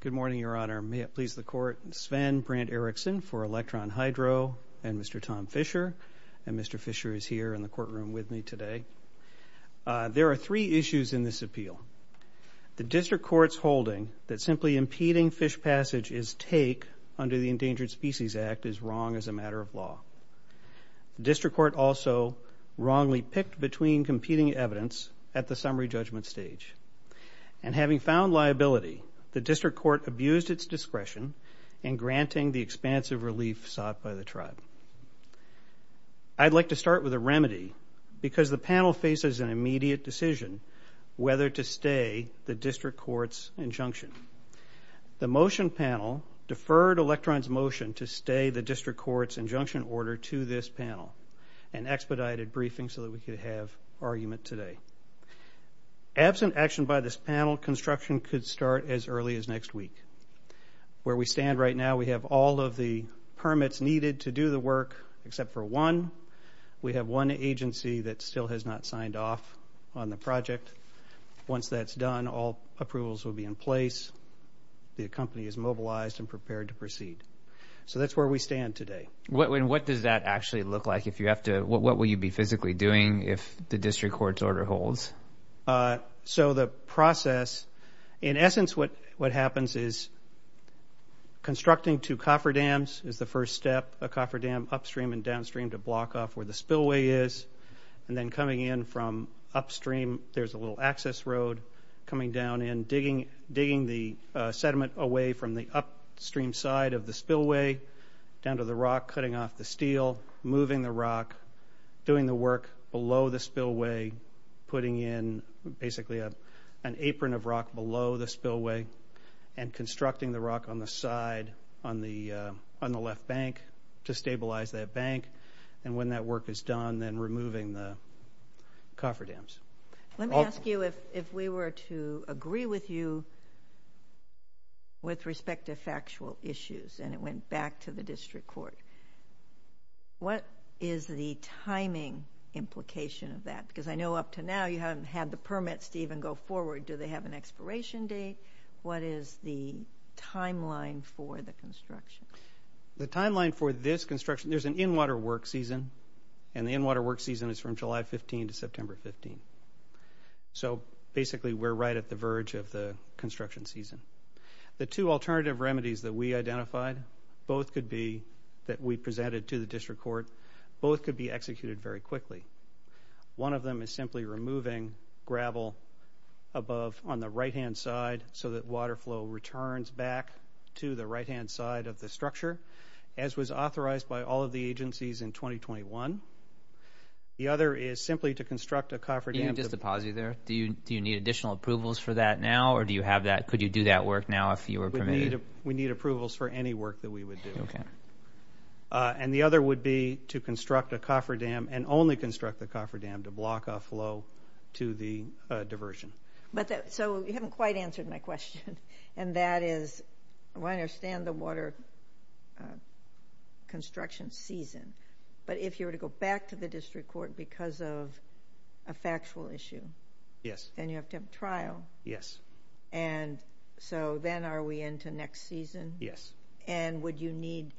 Good morning, Your Honor. May it please the Court, Sven Brand Erickson for Electron Hydro and Mr. Tom Fisher. And Mr. Fisher is here in the courtroom with me today. There are three issues in this appeal. The District Court's holding that simply impeding fish passage is take under the Endangered Species Act is wrong as a matter of law. The District Court also wrongly picked between competing evidence at the summary judgment stage. And having found liability, the District Court abused its discretion in granting the expansive relief sought by the Tribe. I'd like to start with a remedy because the panel faces an immediate decision whether to stay the District Court's injunction. The motion panel deferred Electron's motion to stay the District Court's injunction order to this panel and expedited briefing so that we could have argument today. Absent action by this panel, construction could start as early as next week. Where we stand right now, we have all of the permits needed to do the work except for one. We have one agency that still has not signed off on the project. Once that's done, all approvals will be in place. The company is mobilized and prepared to proceed. So that's where we stand today. What does that actually look like? What will you be physically doing if the District Court's order holds? So the process, in essence what happens is constructing two cofferdams is the first step. A cofferdam upstream and downstream to block off where the spillway is. And then coming in from upstream, there's a little access road coming down and digging the sediment away from the upstream side of the spillway down to the rock, cutting off the steel, moving the rock, doing the work below the spillway, putting in basically an apron of rock below the spillway, and constructing the rock on the side on the left bank to stabilize that bank. And when that work is done, then removing the cofferdams. Let me ask you if we were to agree with you with respect to and it went back to the District Court, what is the timing implication of that? Because I know up to now you haven't had the permits to even go forward. Do they have an expiration date? What is the timeline for the construction? The timeline for this construction, there's an in-water work season, and the in-water work season is from July 15 to September 15. So basically we're right at the verge of the construction season. The two alternative remedies that we identified, both could be, that we presented to the District Court, both could be executed very quickly. One of them is simply removing gravel above on the right-hand side so that water flow returns back to the right-hand side of the structure, as was authorized by all of the agencies in 2021. The other is simply to construct a cofferdam. Do you need additional approvals for that now, or do you have that, could you do that work now if you were permitted? We need approvals for any work that we would do. And the other would be to construct a cofferdam and only construct the cofferdam to block off flow to the diversion. So you haven't quite answered my question, and that is, I want to understand the water construction season, but if you were to go back to the District Court because of a factual issue, and you have to have trial, and so then are we into next season? And would you need,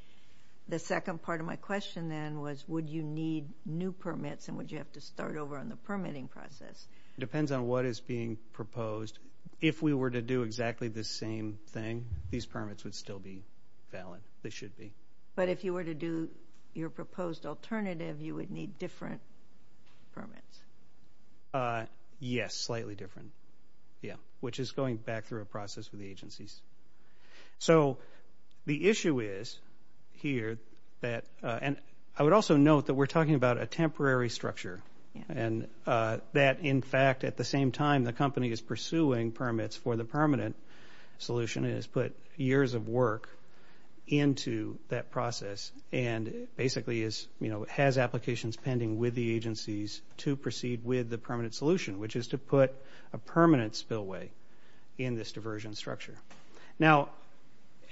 the second part of my question then was, would you need new permits and would you have to start over on the permitting process? It depends on what is being proposed. If we were to do exactly the same thing, these permits would still be valid, they should be. But if you were to do your proposed alternative, you would need different permits. Yes, slightly different. Yeah, which is going back through a process with the agencies. So the issue is here that, and I would also note that we're talking about a temporary structure, and that in fact, at the same time, the company is pursuing permits for the permanent solution, and has put years of work into that process, and basically is, you know, has applications pending with the agencies to proceed with the permanent solution, which is to put a permanent spillway in this diversion structure. Now,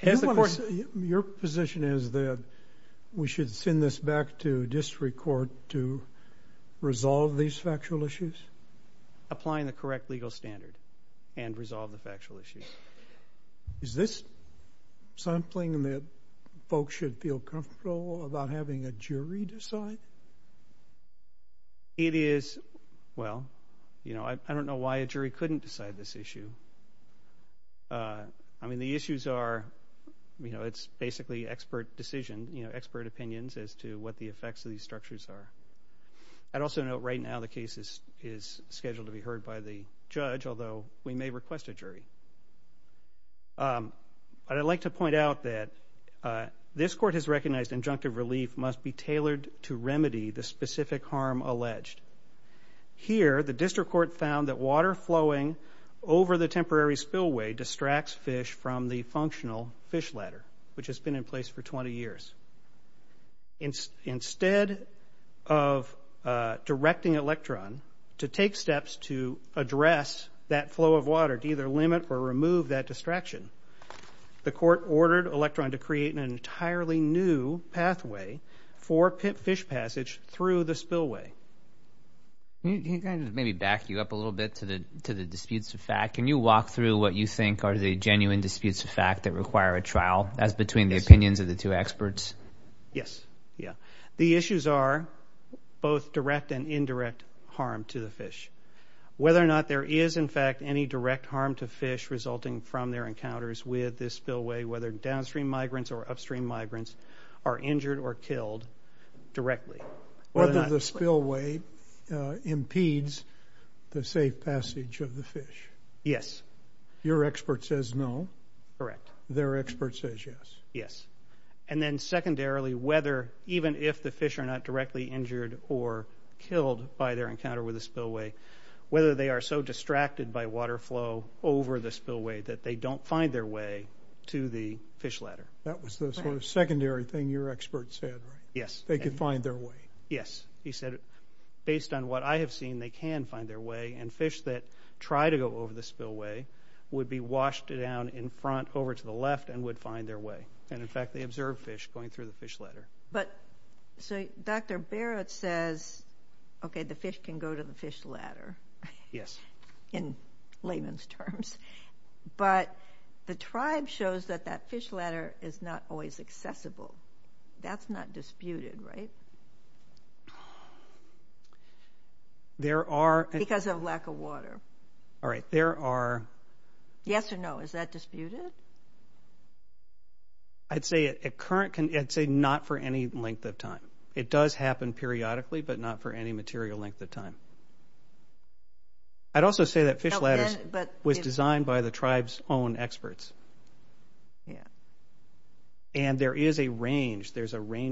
your position is that we should send this back to District Court to resolve these factual issues? Applying the correct legal standard and resolve the factual issues. Is this something that folks should feel comfortable about having a jury decide? It is, well, you know, I don't know why a jury couldn't decide this issue. I mean, the issues are, you know, it's basically expert decision, you know, expert opinions as to what the effects of these structures are. I'd also note right now the case is scheduled to be heard by the judge, although we may request a jury. But I'd like to point out that this court has recognized injunctive relief must be tailored to remedy the specific harm alleged. Here, the District Court found that water flowing over the temporary spillway distracts fish from the functional fish ladder, which has been in for 20 years. Instead of directing Electron to take steps to address that flow of water, to either limit or remove that distraction, the court ordered Electron to create an entirely new pathway for fish passage through the spillway. Can you kind of maybe back you up a little bit to the to the disputes of fact? Can you walk through what you think are the genuine disputes of fact that require a trial as between the opinions of the two experts? Yes. Yeah. The issues are both direct and indirect harm to the fish. Whether or not there is, in fact, any direct harm to fish resulting from their encounters with this spillway, whether downstream migrants or upstream migrants are injured or killed directly. Whether the spillway impedes the safe passage of the fish. Yes. Your expert says no. Correct. Their expert says yes. Yes. And then secondarily, whether even if the fish are not directly injured or killed by their encounter with the spillway, whether they are so distracted by water flow over the spillway that they don't find their way to the fish ladder. That was the sort of secondary thing your expert said. Yes. They could find their way. Yes. He said, based on what I have seen, they can find their way and fish that try to go over the spillway would be washed down in front over to the left and would find their way. And in fact, they observed fish going through the fish ladder. But so Dr. Barrett says, OK, the fish can go to the fish ladder. Yes. In layman's terms. But the tribe shows that that fish ladder is not always accessible. That's not disputed, right? There are. Because of lack of water. All right. There are. Yes or no? Is that disputed? I'd say a current. I'd say not for any length of time. It does happen periodically, but not for any material length of time. I'd There's a range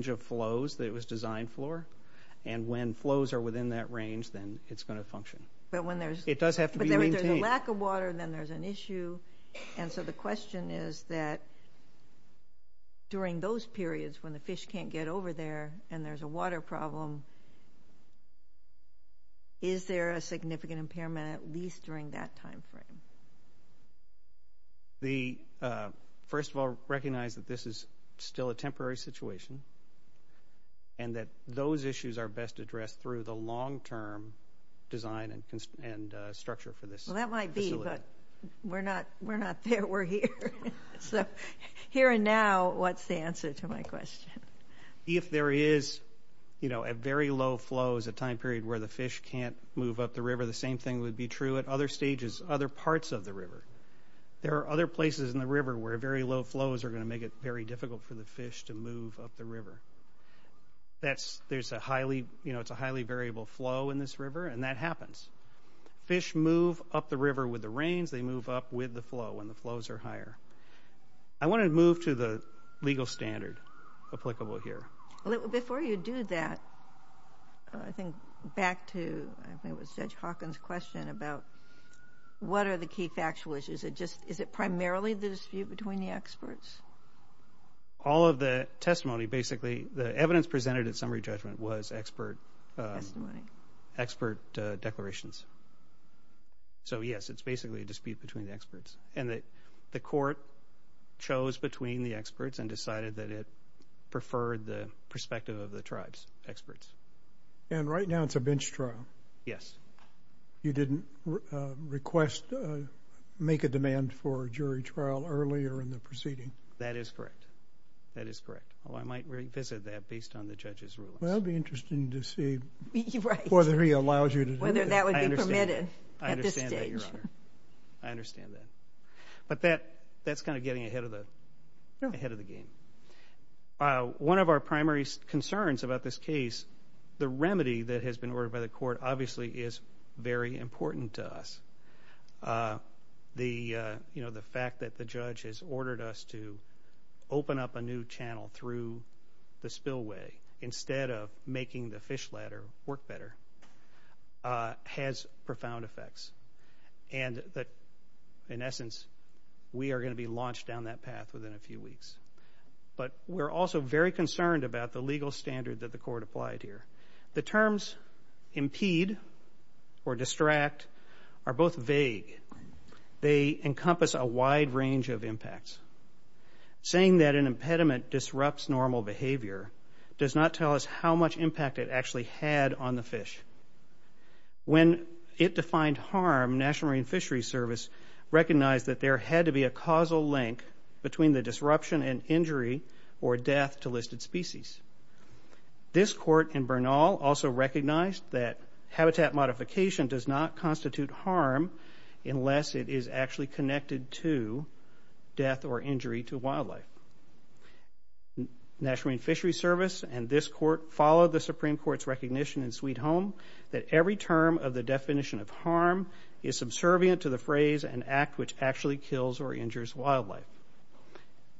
of flows that it was designed for. And when flows are within that range, then it's going to function. It does have to be maintained. But there's a lack of water, then there's an issue. And so the question is that during those periods when the fish can't get over there and there's a water problem, is there a significant impairment at least during that time frame? The first of all, recognize that this is still a temporary situation. And that those issues are best addressed through the long term design and structure for this. Well, that might be, but we're not we're not there. We're here. So here and now, what's the answer to my question? If there is, you know, a very low flow is a time period where the can't move up the river, the same thing would be true at other stages, other parts of the river. There are other places in the river where very low flows are going to make it very difficult for the fish to move up the river. That's there's a highly, you know, it's a highly variable flow in this river. And that happens. Fish move up the river with the rains, they move up with the flow when the flows are higher. I want to move to the legal standard applicable here. Before you do that, I think back to Judge Hawkins' question about what are the key factual issues? Is it just is it primarily the dispute between the experts? All of the testimony, basically, the evidence presented at summary judgment was expert expert declarations. So yes, it's basically a dispute between the experts. And that the court chose between the experts and decided that it preferred the perspective of the tribe's experts. And right now, it's a bench trial. Yes. You didn't request to make a demand for jury trial earlier in the proceeding. That is correct. That is correct. Well, I might revisit that based on the judge's rules. Well, it'll be interesting to see whether he allows you to do that. Whether that would be permitted at this stage. I understand that. But that's kind of getting ahead of the game. One of our primary concerns about this case, the remedy that has been ordered by the court obviously is very important to us. The fact that the judge has ordered us to open up a new channel through the spillway instead of making the fish ladder work better has profound effects. And that, in essence, we are going to be launched down that path within a few weeks. But we're also very concerned about the legal standard that the court applied here. The terms impede or distract are both vague. They encompass a wide range of impacts. Saying that an impediment disrupts normal behavior does not tell us how much impact it actually had on the fish. When it defined harm, National Marine Fisheries Service recognized that there had to be a causal link between the disruption and injury or death to listed species. This court in Bernal also recognized that habitat modification does not constitute harm unless it is actually connected to death or injury to wildlife. National Marine Fisheries Service and this court followed the Supreme Court's recognition in Sweet Home that every term of the definition of harm is subservient to the phrase and act which actually kills or endangers wildlife.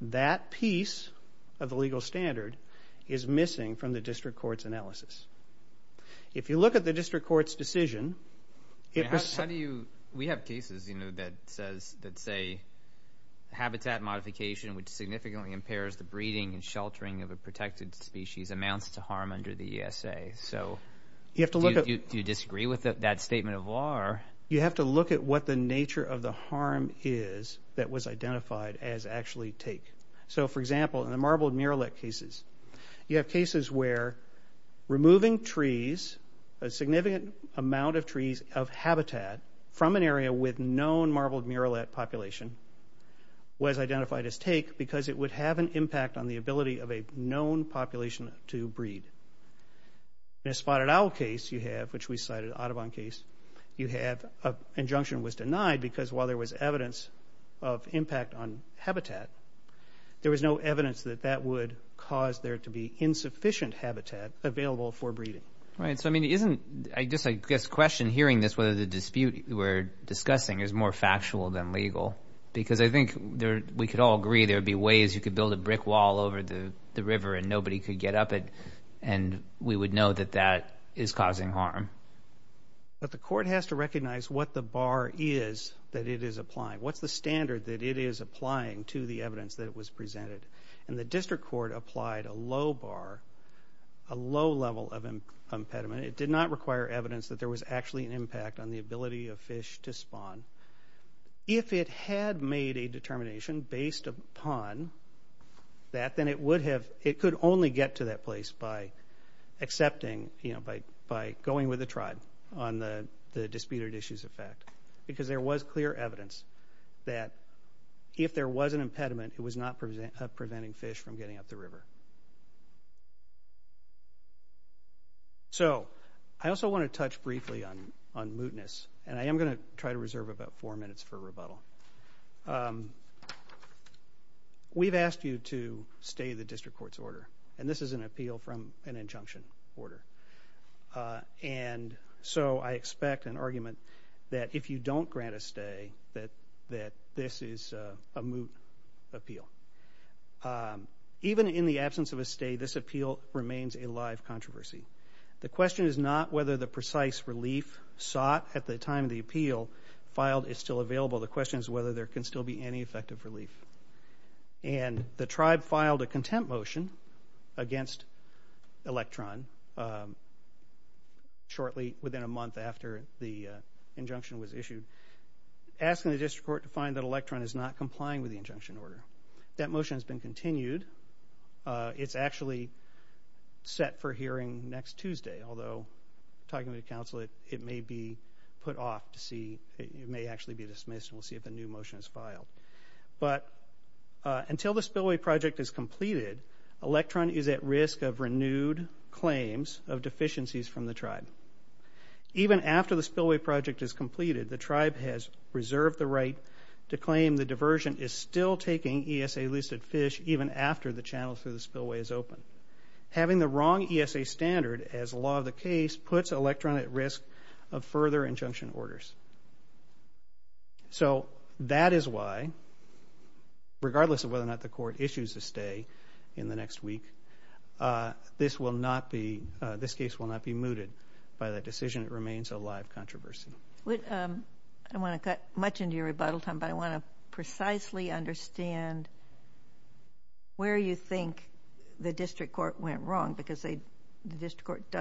That piece of the legal standard is missing from the district court's analysis. If you look at the district court's decision... How do you...we have cases, you know, that says that say habitat modification which significantly impairs the breeding and sheltering of a protected species amounts to harm under the ESA. So, do you disagree with that statement of law or... You have to look at what the nature of the harm is that was identified as actually take. So, for example, in the marbled murrelet cases, you have cases where removing trees, a significant amount of trees of habitat from an area with known marbled murrelet population was identified as take because it would have an impact on the ability of a known population to breed. In a spotted owl case you have, which we cited, Audubon case, you have an injunction was denied because while there was evidence of impact on habitat, there was no evidence that that would cause there to be insufficient habitat available for breeding. Right. So, I mean, isn't...I guess the question hearing this, whether the dispute we're discussing is more factual than legal because I think we could all agree there'd be ways you could build a brick wall over the river and nobody could get up it and we would know that that is causing harm. But the court has to recognize what the bar is that it is applying. What's the standard that it is applying to the evidence that was presented? And the district court applied a low bar, a low level of impediment. It did not require evidence that there was actually an impact on the ability of fish to spawn. If it had made a determination based upon that, then it would have...it could only get to that place by accepting, you know, by going with the tribe on the disputed issues of fact. Because there was clear evidence that if there was an impediment, it was not preventing fish from getting up the river. So, I also want to touch briefly on mootness. And I am going to try to reserve about four minutes for rebuttal. We've asked you to stay the district court's order. And this is an appeal from an injunction order. And so I expect an argument that if you don't grant a stay, that this is a moot appeal. Even in the absence of a stay, this appeal remains a live controversy. The question is not whether the precise relief sought at the time of the appeal filed is still available. The question is whether there can still be any effective relief. And the tribe filed a contempt motion against Electron shortly within a month after the injunction was issued, asking the district court to find that Electron is not complying with the injunction order. That motion has been continued. It's actually set for hearing next Tuesday. Although, talking to the council, it may be put off to see, it may actually be dismissed and we'll see if a new motion is filed. But until the spillway project is completed, Electron is at risk of renewed claims of deficiencies from the tribe. Even after the spillway project is completed, the tribe has reserved the right to claim the diversion is still taking ESA listed fish even after the channel through the spillway is open. Having the wrong ESA standard as law of the case puts Electron at risk of further injunction orders. So that is why, regardless of whether or not the court issues a stay in the next week, this case will not be mooted by that decision. It remains a live controversy. I don't want to cut much into your rebuttal, Tom, but I want to precisely understand where you think the district court went wrong because the district court did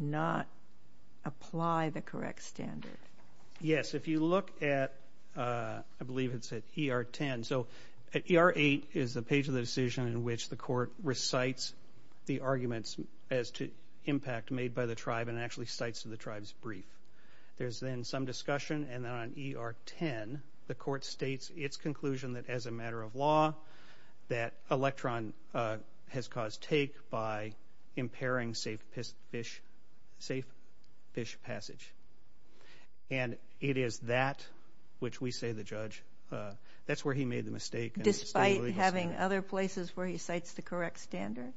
not apply the correct standard. Yes, if you look at, I believe it's at ER 10. So at ER 8 is the page of the decision in which the court recites the arguments as to impact made by the tribe and actually cites to the tribe's brief. There's then some discussion and then on ER 10, the court states its conclusion that as a matter of law, that Electron has caused take by impairing safe fish passage. And it is that which we say the judge, that's where he made the mistake. Despite having other places where he cites the correct standard?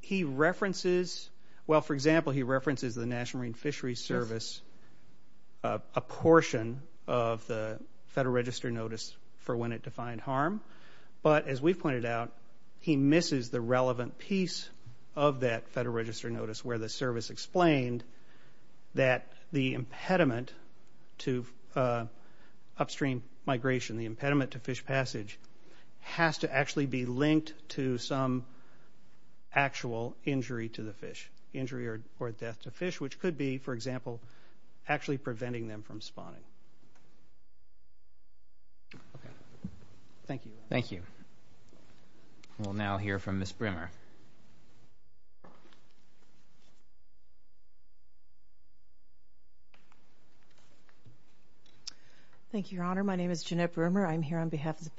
He references, well for example, he references the National Marine Fishery Service, a portion of the Federal Register notice for when it defined harm. But as we pointed out, he misses the relevant piece of that Federal Register notice where the service explained that the impediment to upstream migration, the impediment to fish passage, has to actually be linked to some actual injury to the fish. Injury or death to the fish, which could be, for example, actually preventing them from spawning. Thank you. Thank you. We'll now hear from Ms. Brimmer. Thank you, Your Honor. My name is Brimmer. I'm going to start with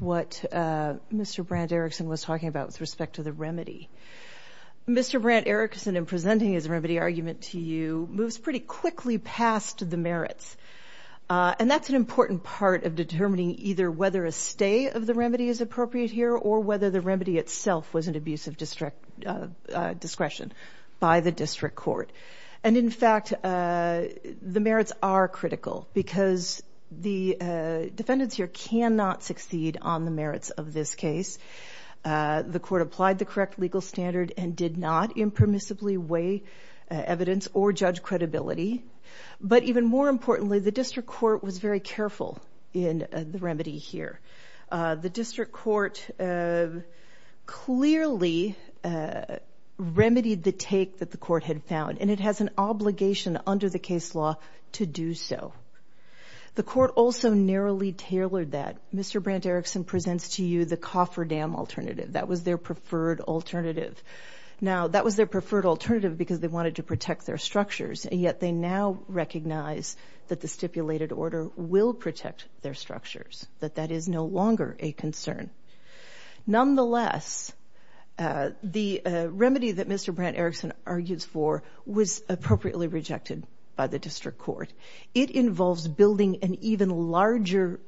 what Mr. Brandt-Erikson was talking about with respect to the remedy. Mr. Brandt-Erikson, in presenting his remedy argument to you, moves pretty quickly past the merits. And that's an important part of determining either whether a stay of the remedy is appropriate here or whether the remedy itself was an abuse of discretion by the district court. And in fact, the merits are critical because the defendants here cannot succeed in the case of a case. The court applied the correct legal standard and did not impermissibly weigh evidence or judge credibility. But even more importantly, the district court was very careful in the remedy here. The district court clearly remedied the take that the court had found, and it has an obligation under the case law to do so. The court also narrowly tailored that. Mr. Brandt-Erikson, Mr. Brandt-Erikson presents to you the cofferdam alternative. That was their preferred alternative. Now, that was their preferred alternative because they wanted to protect their structures, and yet they now recognize that the stipulated order will protect their structures, that that is no longer a concern. Nonetheless, the remedy that Mr. Brandt-Erikson argues for was appropriately rejected by the district court. It involves building an even larger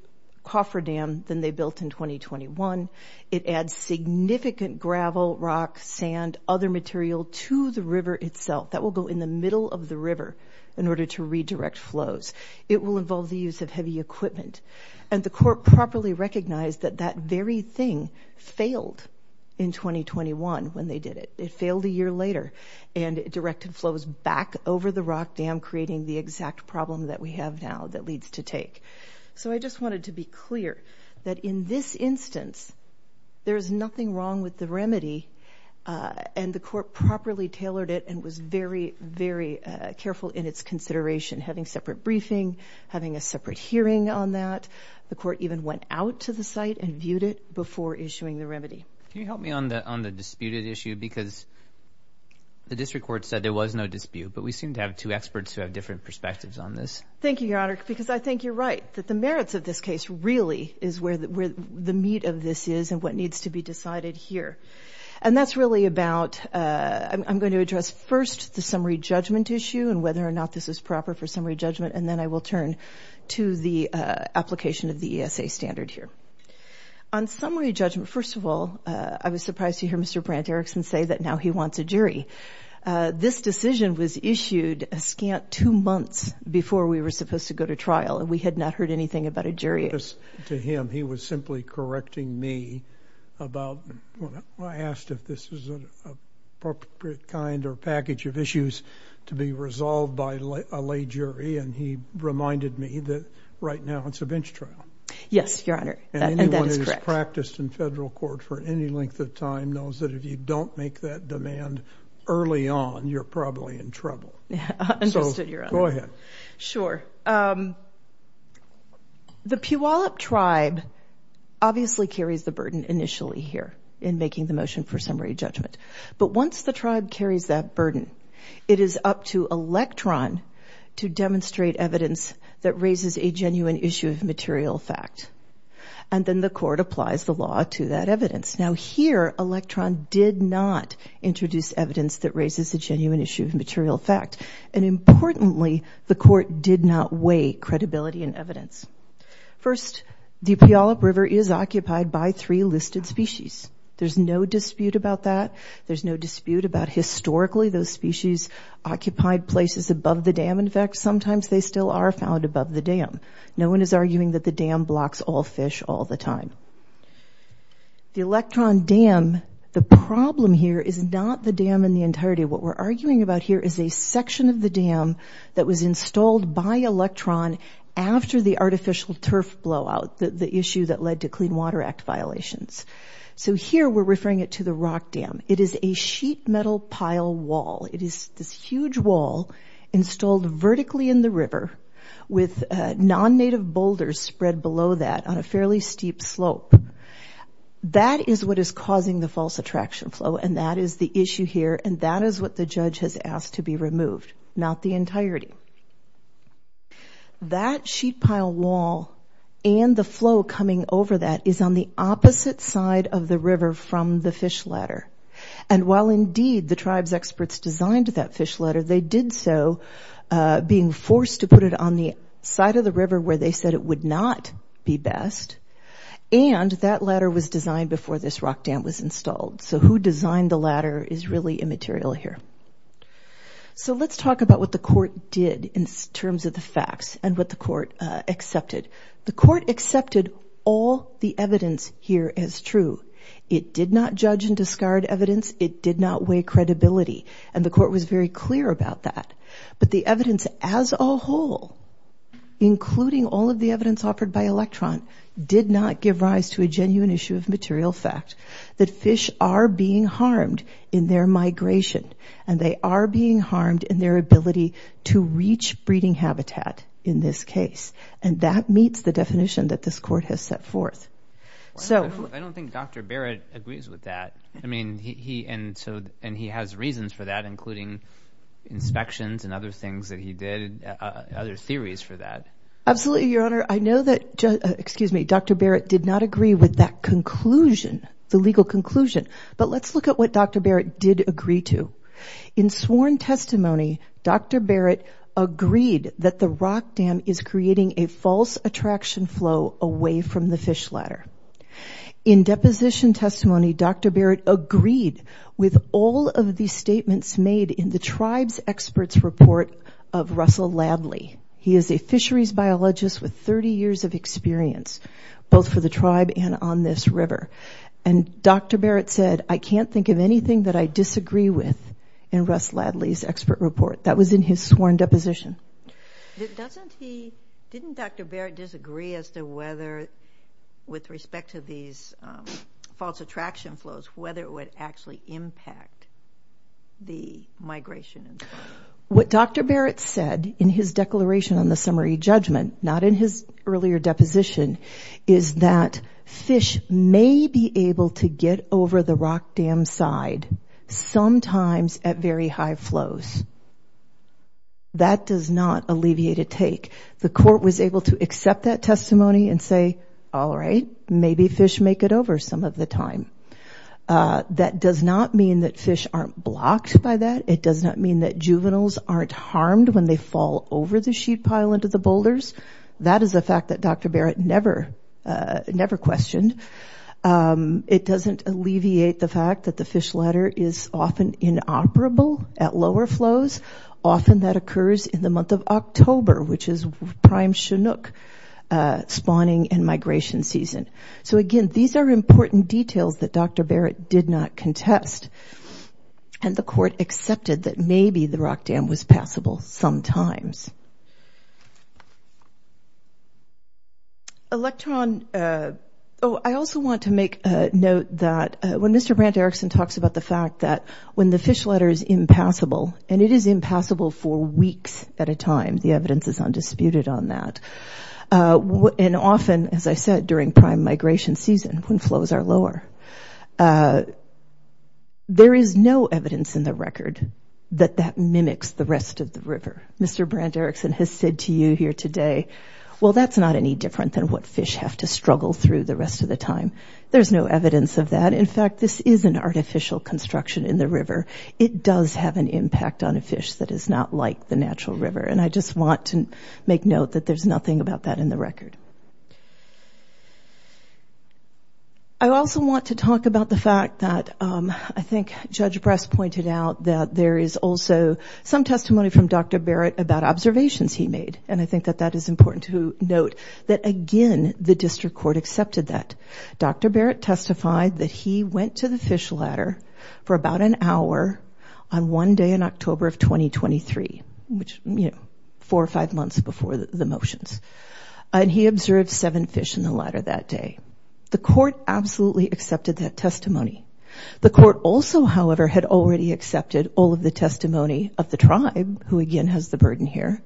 cofferdam than they built in the past. And that's a problem that we have now that needs to be addressed. The cofferdam that they built in 2021, it adds significant gravel, rock, sand, other material to the river itself. That will go in the middle of the river in order to redirect flows. It will involve the use of heavy equipment. And the court properly recognized that that very thing failed in 2021 when they did it. It failed a year later. And it directed flows back over the rock dam creating the exact problem that we have now that leads to take. So I just wanted to be clear that in the case of the this instance, there is nothing wrong with the remedy. And the court properly tailored it and was very, very careful in its consideration, having separate briefing, having a separate hearing on that. The court even went out to the site and viewed it before issuing the remedy. Can you help me on the on the disputed issue? Because the district court said there was no dispute, but we seem to have two experts who have different perspectives on this. Thank you, Your Honor, because I think you're right that the merits of this case really is where the meat of this is and what needs to be decided here. And that's really about I'm going to address first the summary judgment issue and whether or not this is proper for summary judgment. And then I will turn to the application of the ESA standard here on summary judgment. First of all, I was surprised to hear Mr. Brandt Erickson say that now he wants a jury. This decision was issued a scant two months before we were supposed to go to trial and we had not heard anything about a jury to him. He was simply correcting me about when I asked if this was an appropriate kind or package of issues to be resolved by a lay jury. And he reminded me that right now it's a bench trial. Yes, Your Honor. And anyone who has practiced in federal court for any length of time knows that if you don't make that demand early on, you're probably in trouble. So go ahead. Sure. The Puyallup tribe obviously carries the burden initially here in making the motion for summary judgment. But once the tribe carries that burden, it is up to Electron to demonstrate evidence that raises a genuine issue of material fact. And then the court applies the law to that evidence. Now here, Electron did not introduce evidence that raises a genuine issue of material fact. And importantly, the court did not weigh credibility and evidence. First, the Puyallup River is occupied by three listed species. There's no dispute about that. There's no dispute about historically those species occupied places above the dam. In fact, sometimes they still are found above the dam. No one is arguing that the dam blocks all fish all the time. The Electron Dam, the problem here is not the dam in the entirety. What we're arguing about here is a section of the dam that was installed by Electron after the artificial turf blowout – the issue that led to Clean Water Act violations. So here we're referring it to the rock dam. It is a sheet metal pile wall. It is this huge wall installed vertically in the river with non-native boulders spread below that on a fairly steep slope. That is what is causing the false attraction flow. And that is the issue here. And that is what the judge has asked to be removed, not the entirety. That sheet pile wall and the flow coming over that is on the opposite side of the river from the fish ladder. And while indeed the tribe's experts designed that fish ladder, they did so being forced to put it on the side of the river where they said it would not be best. And that ladder was designed before this rock dam was installed. So who designed the ladder is really immaterial here. So let's talk about what the court did in terms of the facts and what the court accepted. The court accepted all the evidence here as true. It did not judge and discard evidence. It did not weigh credibility. And the court was very clear about that. But the evidence as a whole, including all of the evidence offered by Electron, did not give rise to a genuine issue of material fact that fish are being harmed in their migration. And they are being harmed in their ability to reach breeding habitat in this case. And that meets the definition that this court has set forth. So I don't think Dr. Barrett agrees with that. I mean, he and so and he has reasons for that, including inspections and other things that he did, other theories for that. Absolutely, Your Honor. I know that, excuse me, Dr. Barrett did not agree with that conclusion, the legal conclusion. But let's look at what Dr. Barrett did agree to. In sworn testimony, Dr. Barrett agreed that the rock dam is creating a false attraction flow away from the fish ladder. In deposition testimony, Dr. Barrett agreed with all of the statements made in the tribe's expert's report of Russell Ladley. He is a fisheries biologist with 30 years of experience, both for the tribe and on this river. And Dr. Barrett said, I can't think of anything that I disagree with in Russ Ladley's expert report. That was in his sworn deposition. Doesn't he, didn't Dr. Barrett disagree as to whether, with respect to these false attraction flows, whether it would actually impact the migration? What Dr. Barrett said in his declaration on the summary judgment, not in his earlier deposition, is that fish may be able to get over the rock dam side, sometimes at very high flows. That does not alleviate a take. The court was able to accept that testimony and say, all right, maybe fish make it over some of the time. That does not mean that fish aren't blocked by that. It does not mean that juveniles aren't harmed when they fall over the sheet pile into the boulders. That is a fact that Dr. Barrett never, never questioned. It doesn't alleviate the fact that the fish ladder is often inoperable at lower flows. Often that occurs in the month of October, which is prime Chinook spawning and migration season. So again, these are important details that Dr. Barrett did not contest. And the court accepted that maybe the rock dam was passable sometimes. Electron. Oh, I also want to make a note that when Mr. Brant Erickson talks about the fact that when the fish ladder is impassable, and it is impassable for weeks at a time, the evidence is undisputed on that. And often, as I said, during prime migration season, when flows are lower, there is no evidence in the record that that mimics the rest of the river. Mr. Brant Erickson has said to you here today, well, that's not any different than what fish have to struggle through the rest of the time. There's no evidence of that. In fact, this is an artificial construction in the river. It does have an impact on a fish that is not like the natural river. And I just want to make note that there's nothing about that in the record. I also want to talk about the fact that I think Judge Bress pointed out that there is also some testimony from Dr. Barrett about observations he made. And I think that that is important to note that, again, the district court accepted that. Dr. Barrett testified that he went to the fish ladder for about an hour on one day in October of 2023, which, you know, four or five months before the motions. And he observed seven fish in the ladder that day. The court absolutely accepted that testimony. The court also, however, had already accepted all of the testimony of the tribe, who again has the burden here,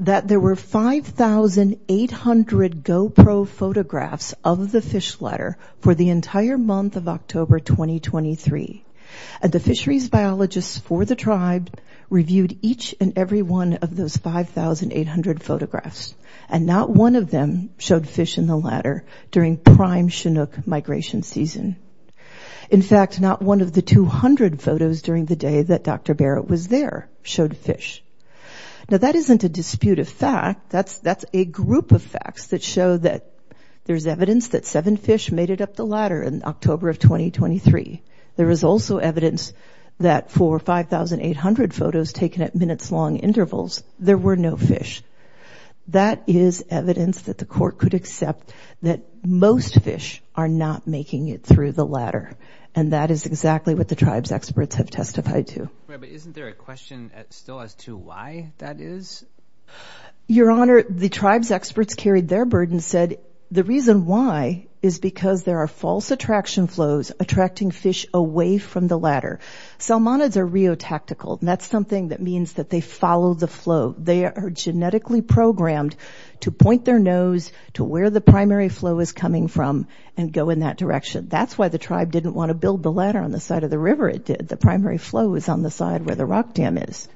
that there were 5,800 GoPro photographs of the fish ladder for the entire month of October 2023. And the fisheries biologists for the tribe reviewed each and every one of those 5,800 photographs. And not one of them showed fish in the ladder during prime Chinook migration season. In fact, not one of the 200 photos during the day that Dr. Barrett was there showed fish. Now, that isn't a disputed fact. That's a group of facts that show that there's evidence that seven fish made it up the ladder in October of 2023. There is also evidence that for 5,800 photos taken at minutes long intervals, there were no fish. That is evidence that the court could accept that most fish are not making it through the ladder. And that is exactly what the tribe's experts have testified to. Right, but isn't there a question still as to why that is? Your Honor, the tribe's experts carried their burden and said the reason why is because there are false attraction flows attracting fish away from the ladder. Salmonids are reotactical, and that's something that means that they follow the flow. They are genetically programmed to point their nose to where the primary flow is coming from and go in that direction. That's why the tribe didn't want to build the ladder on the side of the river. It did – the primary flow was on the side where the rock dam is.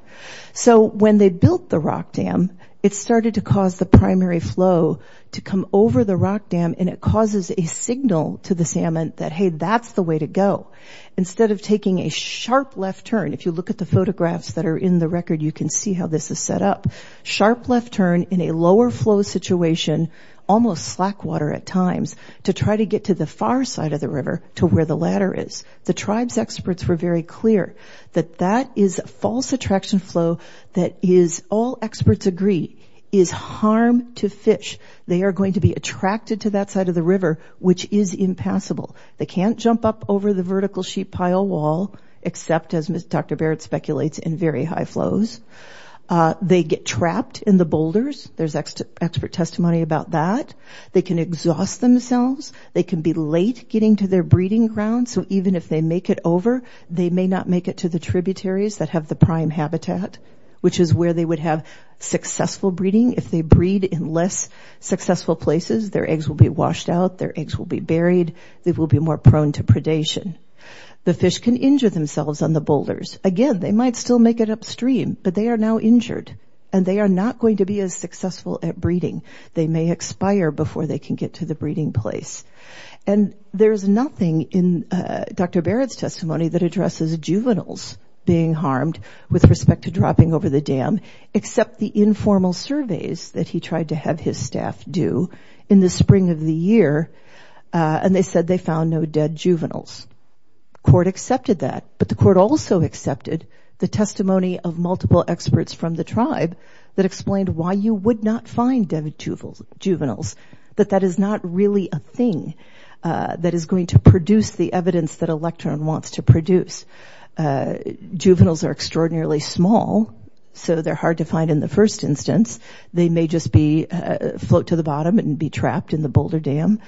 So when they built the rock dam, it started to cause the primary flow to come over the rock dam, and it causes a signal to the salmon that, hey, that's the way to go. Instead of taking a sharp left turn – if you look at the photographs that are in the record, you can see how this is set up – sharp left turn in a lower flow situation, almost slack water at times, to try to get to the far side of the river to where the ladder is. The tribe's experts were very clear that that is a false attraction flow that is, all experts agree, is harm to fish. They are going to be attracted to that side of the river, which is impassable. They can't jump up over the vertical sheet pile wall, except, as Dr. Barrett speculates, in very high flows. They get trapped in the boulders. There's expert testimony about that. They can exhaust themselves. They can be late getting to their breeding ground. So even if they make it over, they may not make it to the tributaries that have the prime habitat, which is where they would have successful breeding. If they breed in less successful places, their eggs will be washed out, their eggs will be buried, they will be more prone to predation. The fish can injure themselves on the boulders. Again, they might still make it upstream, but they are now injured, and they are not going to be as successful at breeding. They may expire before they can get to the breeding place. And there's nothing in Dr. Barrett's testimony that addresses juveniles being harmed with respect to dropping over the dam, except the informal surveys that he tried to have his staff do in the spring of the year, and they said they found no dead juveniles. Court accepted that, but the court also accepted the testimony of multiple experts from the tribe that explained why you would not find dead juveniles, that that is not really a thing that is going to produce the evidence that Electron wants to produce. Juveniles are extraordinarily small, so they're hard to find in the first instance. They may just float to the bottom and be trapped in the boulder dam.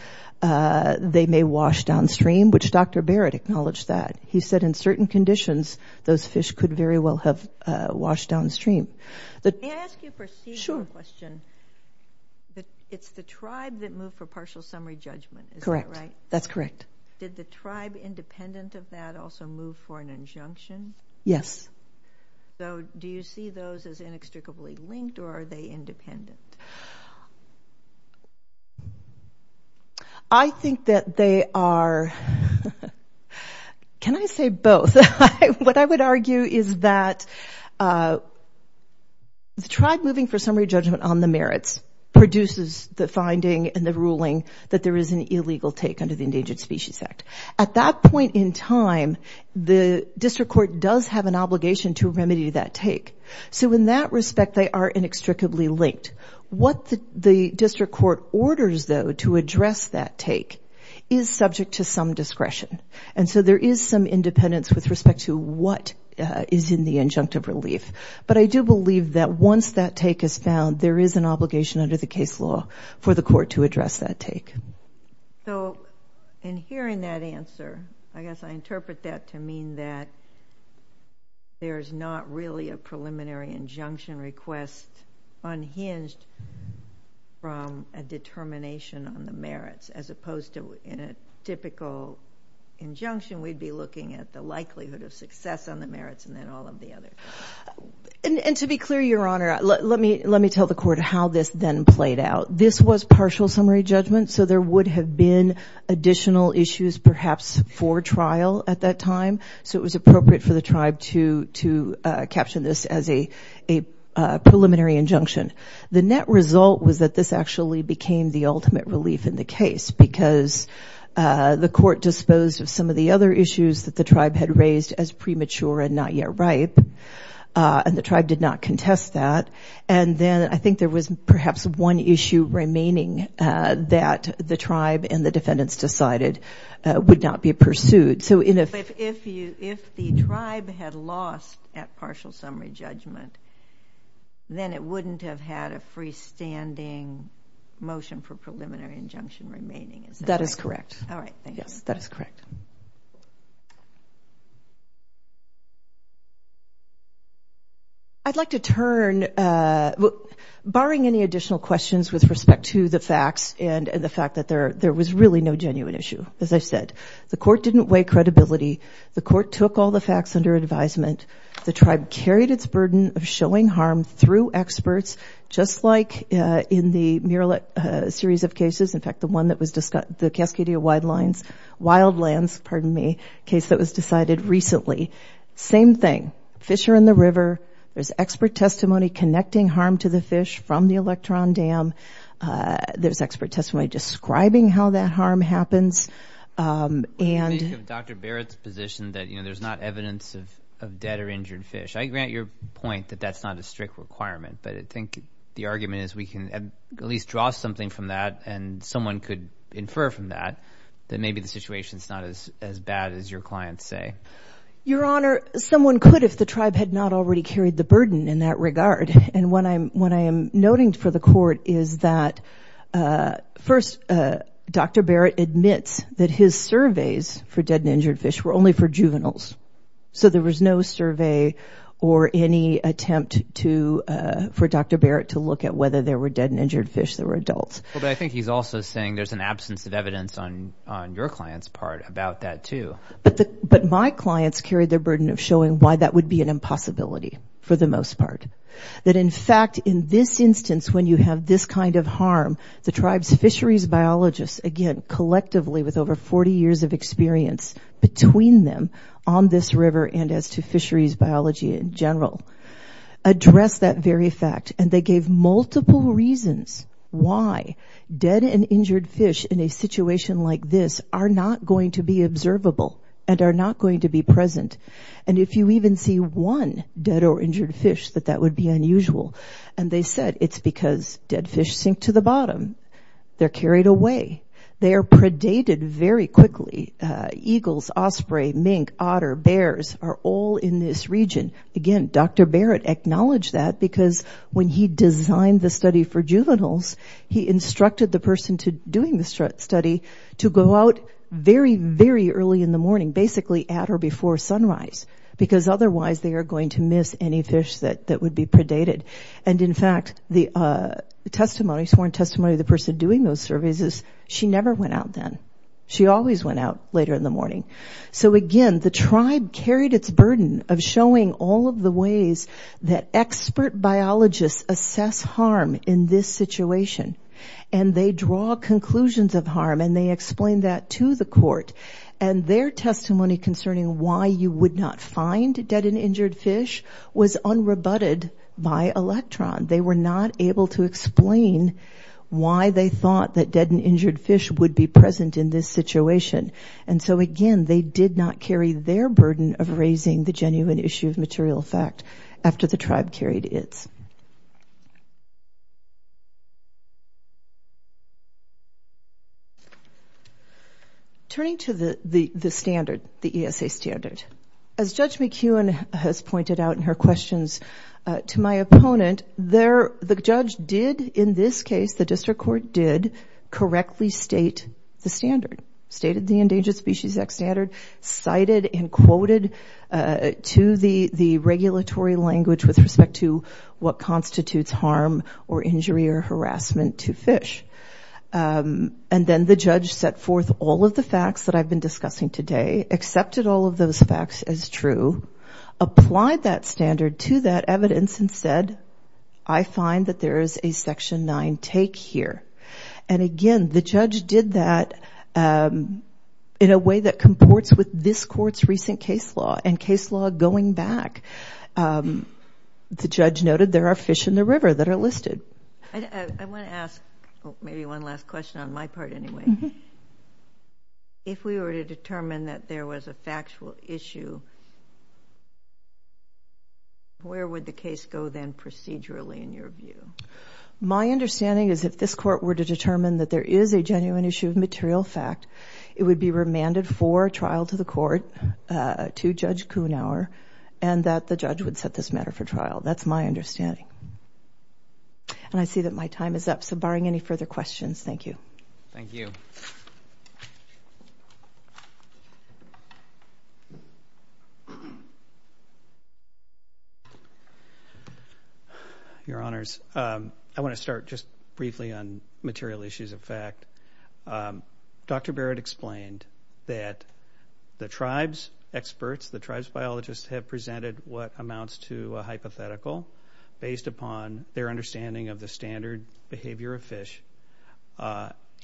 They may wash downstream, which Dr. Barrett acknowledged that. He said in certain conditions, those fish could very well have washed downstream. Can I ask you a procedural question? It's the tribe that moved for partial summary judgment, is that right? Correct. That's correct. Did the tribe independent of that also move for an injunction? Yes. So do you see those as inextricably linked, or are they independent? I think that they are, can I say both? What I would argue is that the tribe moving for summary judgment on the merits produces the finding and the ruling that there is an illegal take under the Endangered Species Act. At that point in time, the district court does have an obligation to remedy that take. So in that respect, they are inextricably linked. What the district court orders, though, to address that take is subject to some discretion. And so there is some independence with respect to what is in the injunctive relief. But I do believe that once that take is found, there is an obligation under the case law for the court to address that take. So in hearing that answer, I guess I interpret that to mean that there's not really a preliminary injunction request unhinged from a determination on the merits, as opposed to in a typical injunction, we'd be looking at the likelihood of success on the merits and then all of the other. And to be clear, Your Honor, let me tell the court how this then played out. This was partial summary judgment, so there would have been additional issues perhaps for trial at that time. So it was appropriate for the tribe to capture this as a preliminary injunction. The net result was that this actually became the ultimate relief in the case because the court disposed of some of the other issues that the tribe had raised as premature and not yet ripe, and the tribe did not contest that. And then I think there was perhaps one issue remaining that the tribe and the defendants decided would not be pursued. If the tribe had lost at partial summary judgment, then it wouldn't have had a freestanding motion for preliminary injunction remaining, is that right? That is correct. All right, thank you. Yes, that is correct. I'd like to turn, barring any additional questions with respect to the facts and the fact that there was really no genuine issue, as I've said. The court didn't weigh credibility. The court took all the facts under advisement. The tribe carried its burden of showing harm through experts, just like in the Murillet series of cases, in fact, the one that was discussed, the Cascadia Wildlands case that was decided recently. Same thing. Fish are in the river. There's expert testimony connecting harm to the fish from the Electron Dam. There's expert testimony describing how that harm happens. Dr. Barrett's position that there's not evidence of dead or injured fish. I grant your point that that's not a strict requirement, but I think the argument is we can at least draw something from that and someone could infer from that that maybe the situation is not as bad as your clients say. Your Honor, someone could if the tribe had not already carried the burden in that regard. And what I am noting for the court is that, first, Dr. Barrett admits that his surveys for dead and injured fish were only for juveniles. So there was no survey or any attempt for Dr. Barrett to look at whether there were dead and injured fish that were adults. But I think he's also saying there's an absence of evidence on your client's part about that, too. But my clients carried their burden of showing why that would be an impossibility for the most part. That, in fact, in this instance, when you have this kind of harm, the tribe's fisheries biologists, again, collectively with over 40 years of experience between them on this river and as to fisheries biology in general, address that very fact. And they gave multiple reasons why dead and injured fish in a situation like this are not going to be observable and are not going to be present. And if you even see one dead or injured fish, that that would be unusual. And they said it's because dead fish sink to the bottom. They're carried away. They are predated very quickly. Eagles, osprey, mink, otter, bears are all in this region. Again, Dr. Barrett acknowledged that because when he designed the study for juveniles, he instructed the person doing the study to go out very, very early in the morning – basically at or before sunrise – because otherwise they are going to miss any fish that would be predated. And, in fact, the testimony – sworn testimony of the person doing those surveys is she never went out then. She always went out later in the morning. So, again, the tribe carried its burden of showing all of the ways that expert biologists assess harm in this situation. And they draw conclusions of harm, and they explain that to the court. And their testimony concerning why you would not find dead and injured fish was unrebutted by Electron. They were not able to explain why they thought that dead and injured fish would be present in this situation. And so, again, they did not carry their burden of raising the genuine issue of material fact after the tribe carried its. Turning to the standard, the ESA standard, as Judge McEwen has pointed out in her questions to my opponent, the judge did, in this case, the district court did, correctly state the standard – stated the Endangered Species Act standard, cited and quoted to the regulatory language with respect to what constitutes harm or injury or harassment to fish. And then the judge set forth all of the facts that I've been discussing today, accepted all of those facts as true, applied that standard to that evidence, and said, I find that there is a Section 9 take here. And, again, the judge did that in a way that comports with this court's recent case law. And case law going back, the judge noted there are fish in the river that are listed. I want to ask maybe one last question on my part anyway. If we were to determine that there was a factual issue, where would the case go then procedurally in your view? My understanding is if this court were to determine that there is a genuine issue of material fact, it would be remanded for trial to the court to Judge Kuhnhauer and that the judge would set this matter for trial. That's my understanding. And I see that my time is up, so barring any further questions, thank you. Thank you. Your Honors, I want to start just briefly on material issues of fact. Dr. Barrett explained that the tribe's experts, the tribe's biologists, have presented what amounts to a hypothetical based upon their understanding of the standard behavior of fish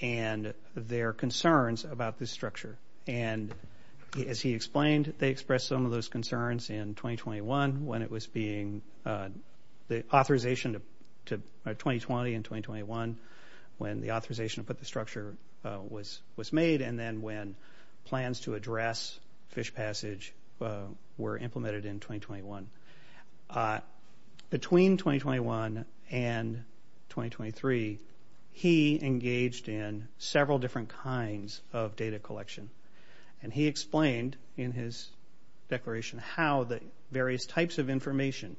and their concerns about this structure. And as he explained, they expressed some of those concerns in 2021 when it was being, the authorization to 2020 and 2021 when the authorization to put the structure was made and then when plans to address fish passage were implemented in 2021. Between 2021 and 2023, he engaged in several different kinds of data collection. And he explained in his declaration how the various types of information,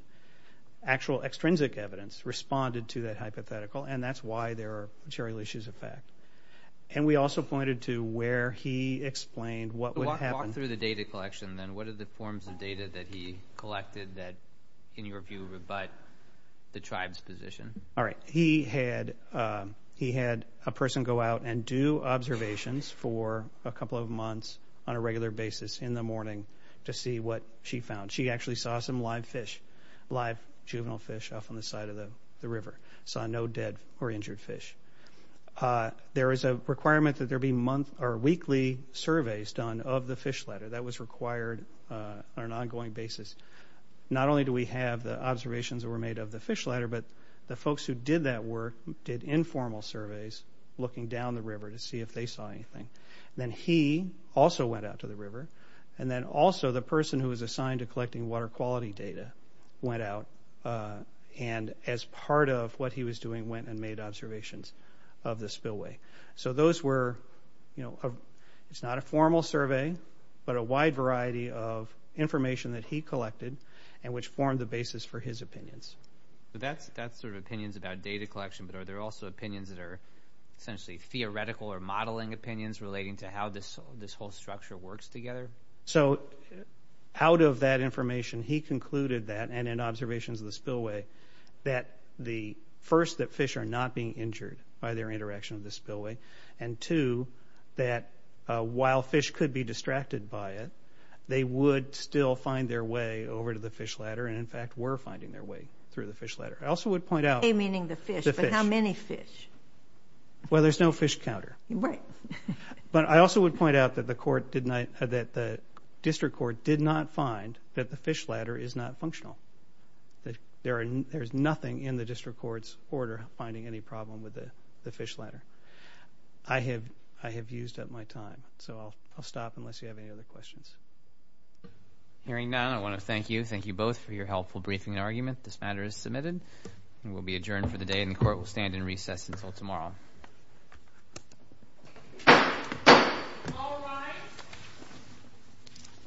actual extrinsic evidence responded to that hypothetical and that's why there are material issues of fact. And we also pointed to where he explained what would happen. Walk through the data collection then. What are the forms of data that he collected that, in your view, rebut the tribe's position? All right. He had a person go out and do observations for a couple of months on a regular basis in the morning to see what she found. She actually saw some live fish, live juvenile fish off on the side of the river. Saw no dead or injured fish. There is a requirement that there be monthly or weekly surveys done of the fish ladder. That was required on an ongoing basis. Not only do we have the observations that were made of the fish ladder, but the folks who did that work did informal surveys looking down the river to see if they saw anything. Then he also went out to the river. And then also the person who was assigned to collecting water quality data went out and as part of what he was doing went and made observations of the spillway. So those were, you know, it's not a formal survey, but a wide variety of information that he collected and which formed the basis for his opinions. So that's sort of opinions about data collection, but are there also opinions that are essentially theoretical or modeling opinions relating to how this whole structure works together? So out of that information, he concluded that, and in observations of the spillway, that the first, that fish are not being injured by their interaction with the spillway, and two, that while fish could be distracted by it, they would still find their way over to the fish ladder and in fact were finding their way through the fish ladder. I also would point out the fish. Meaning the fish, but how many fish? Well, there's no fish counter. Right. But I also would point out that the court did not, that the district court did not find that the fish ladder is not functional. There's nothing in the district court's order finding any problem with the fish ladder. I have used up my time. So I'll stop unless you have any other questions. Hearing none, I want to thank you. Thank you both for your helpful briefing and argument. This matter is submitted and will be adjourned for the day, and the court will stand in recess until tomorrow. All rise.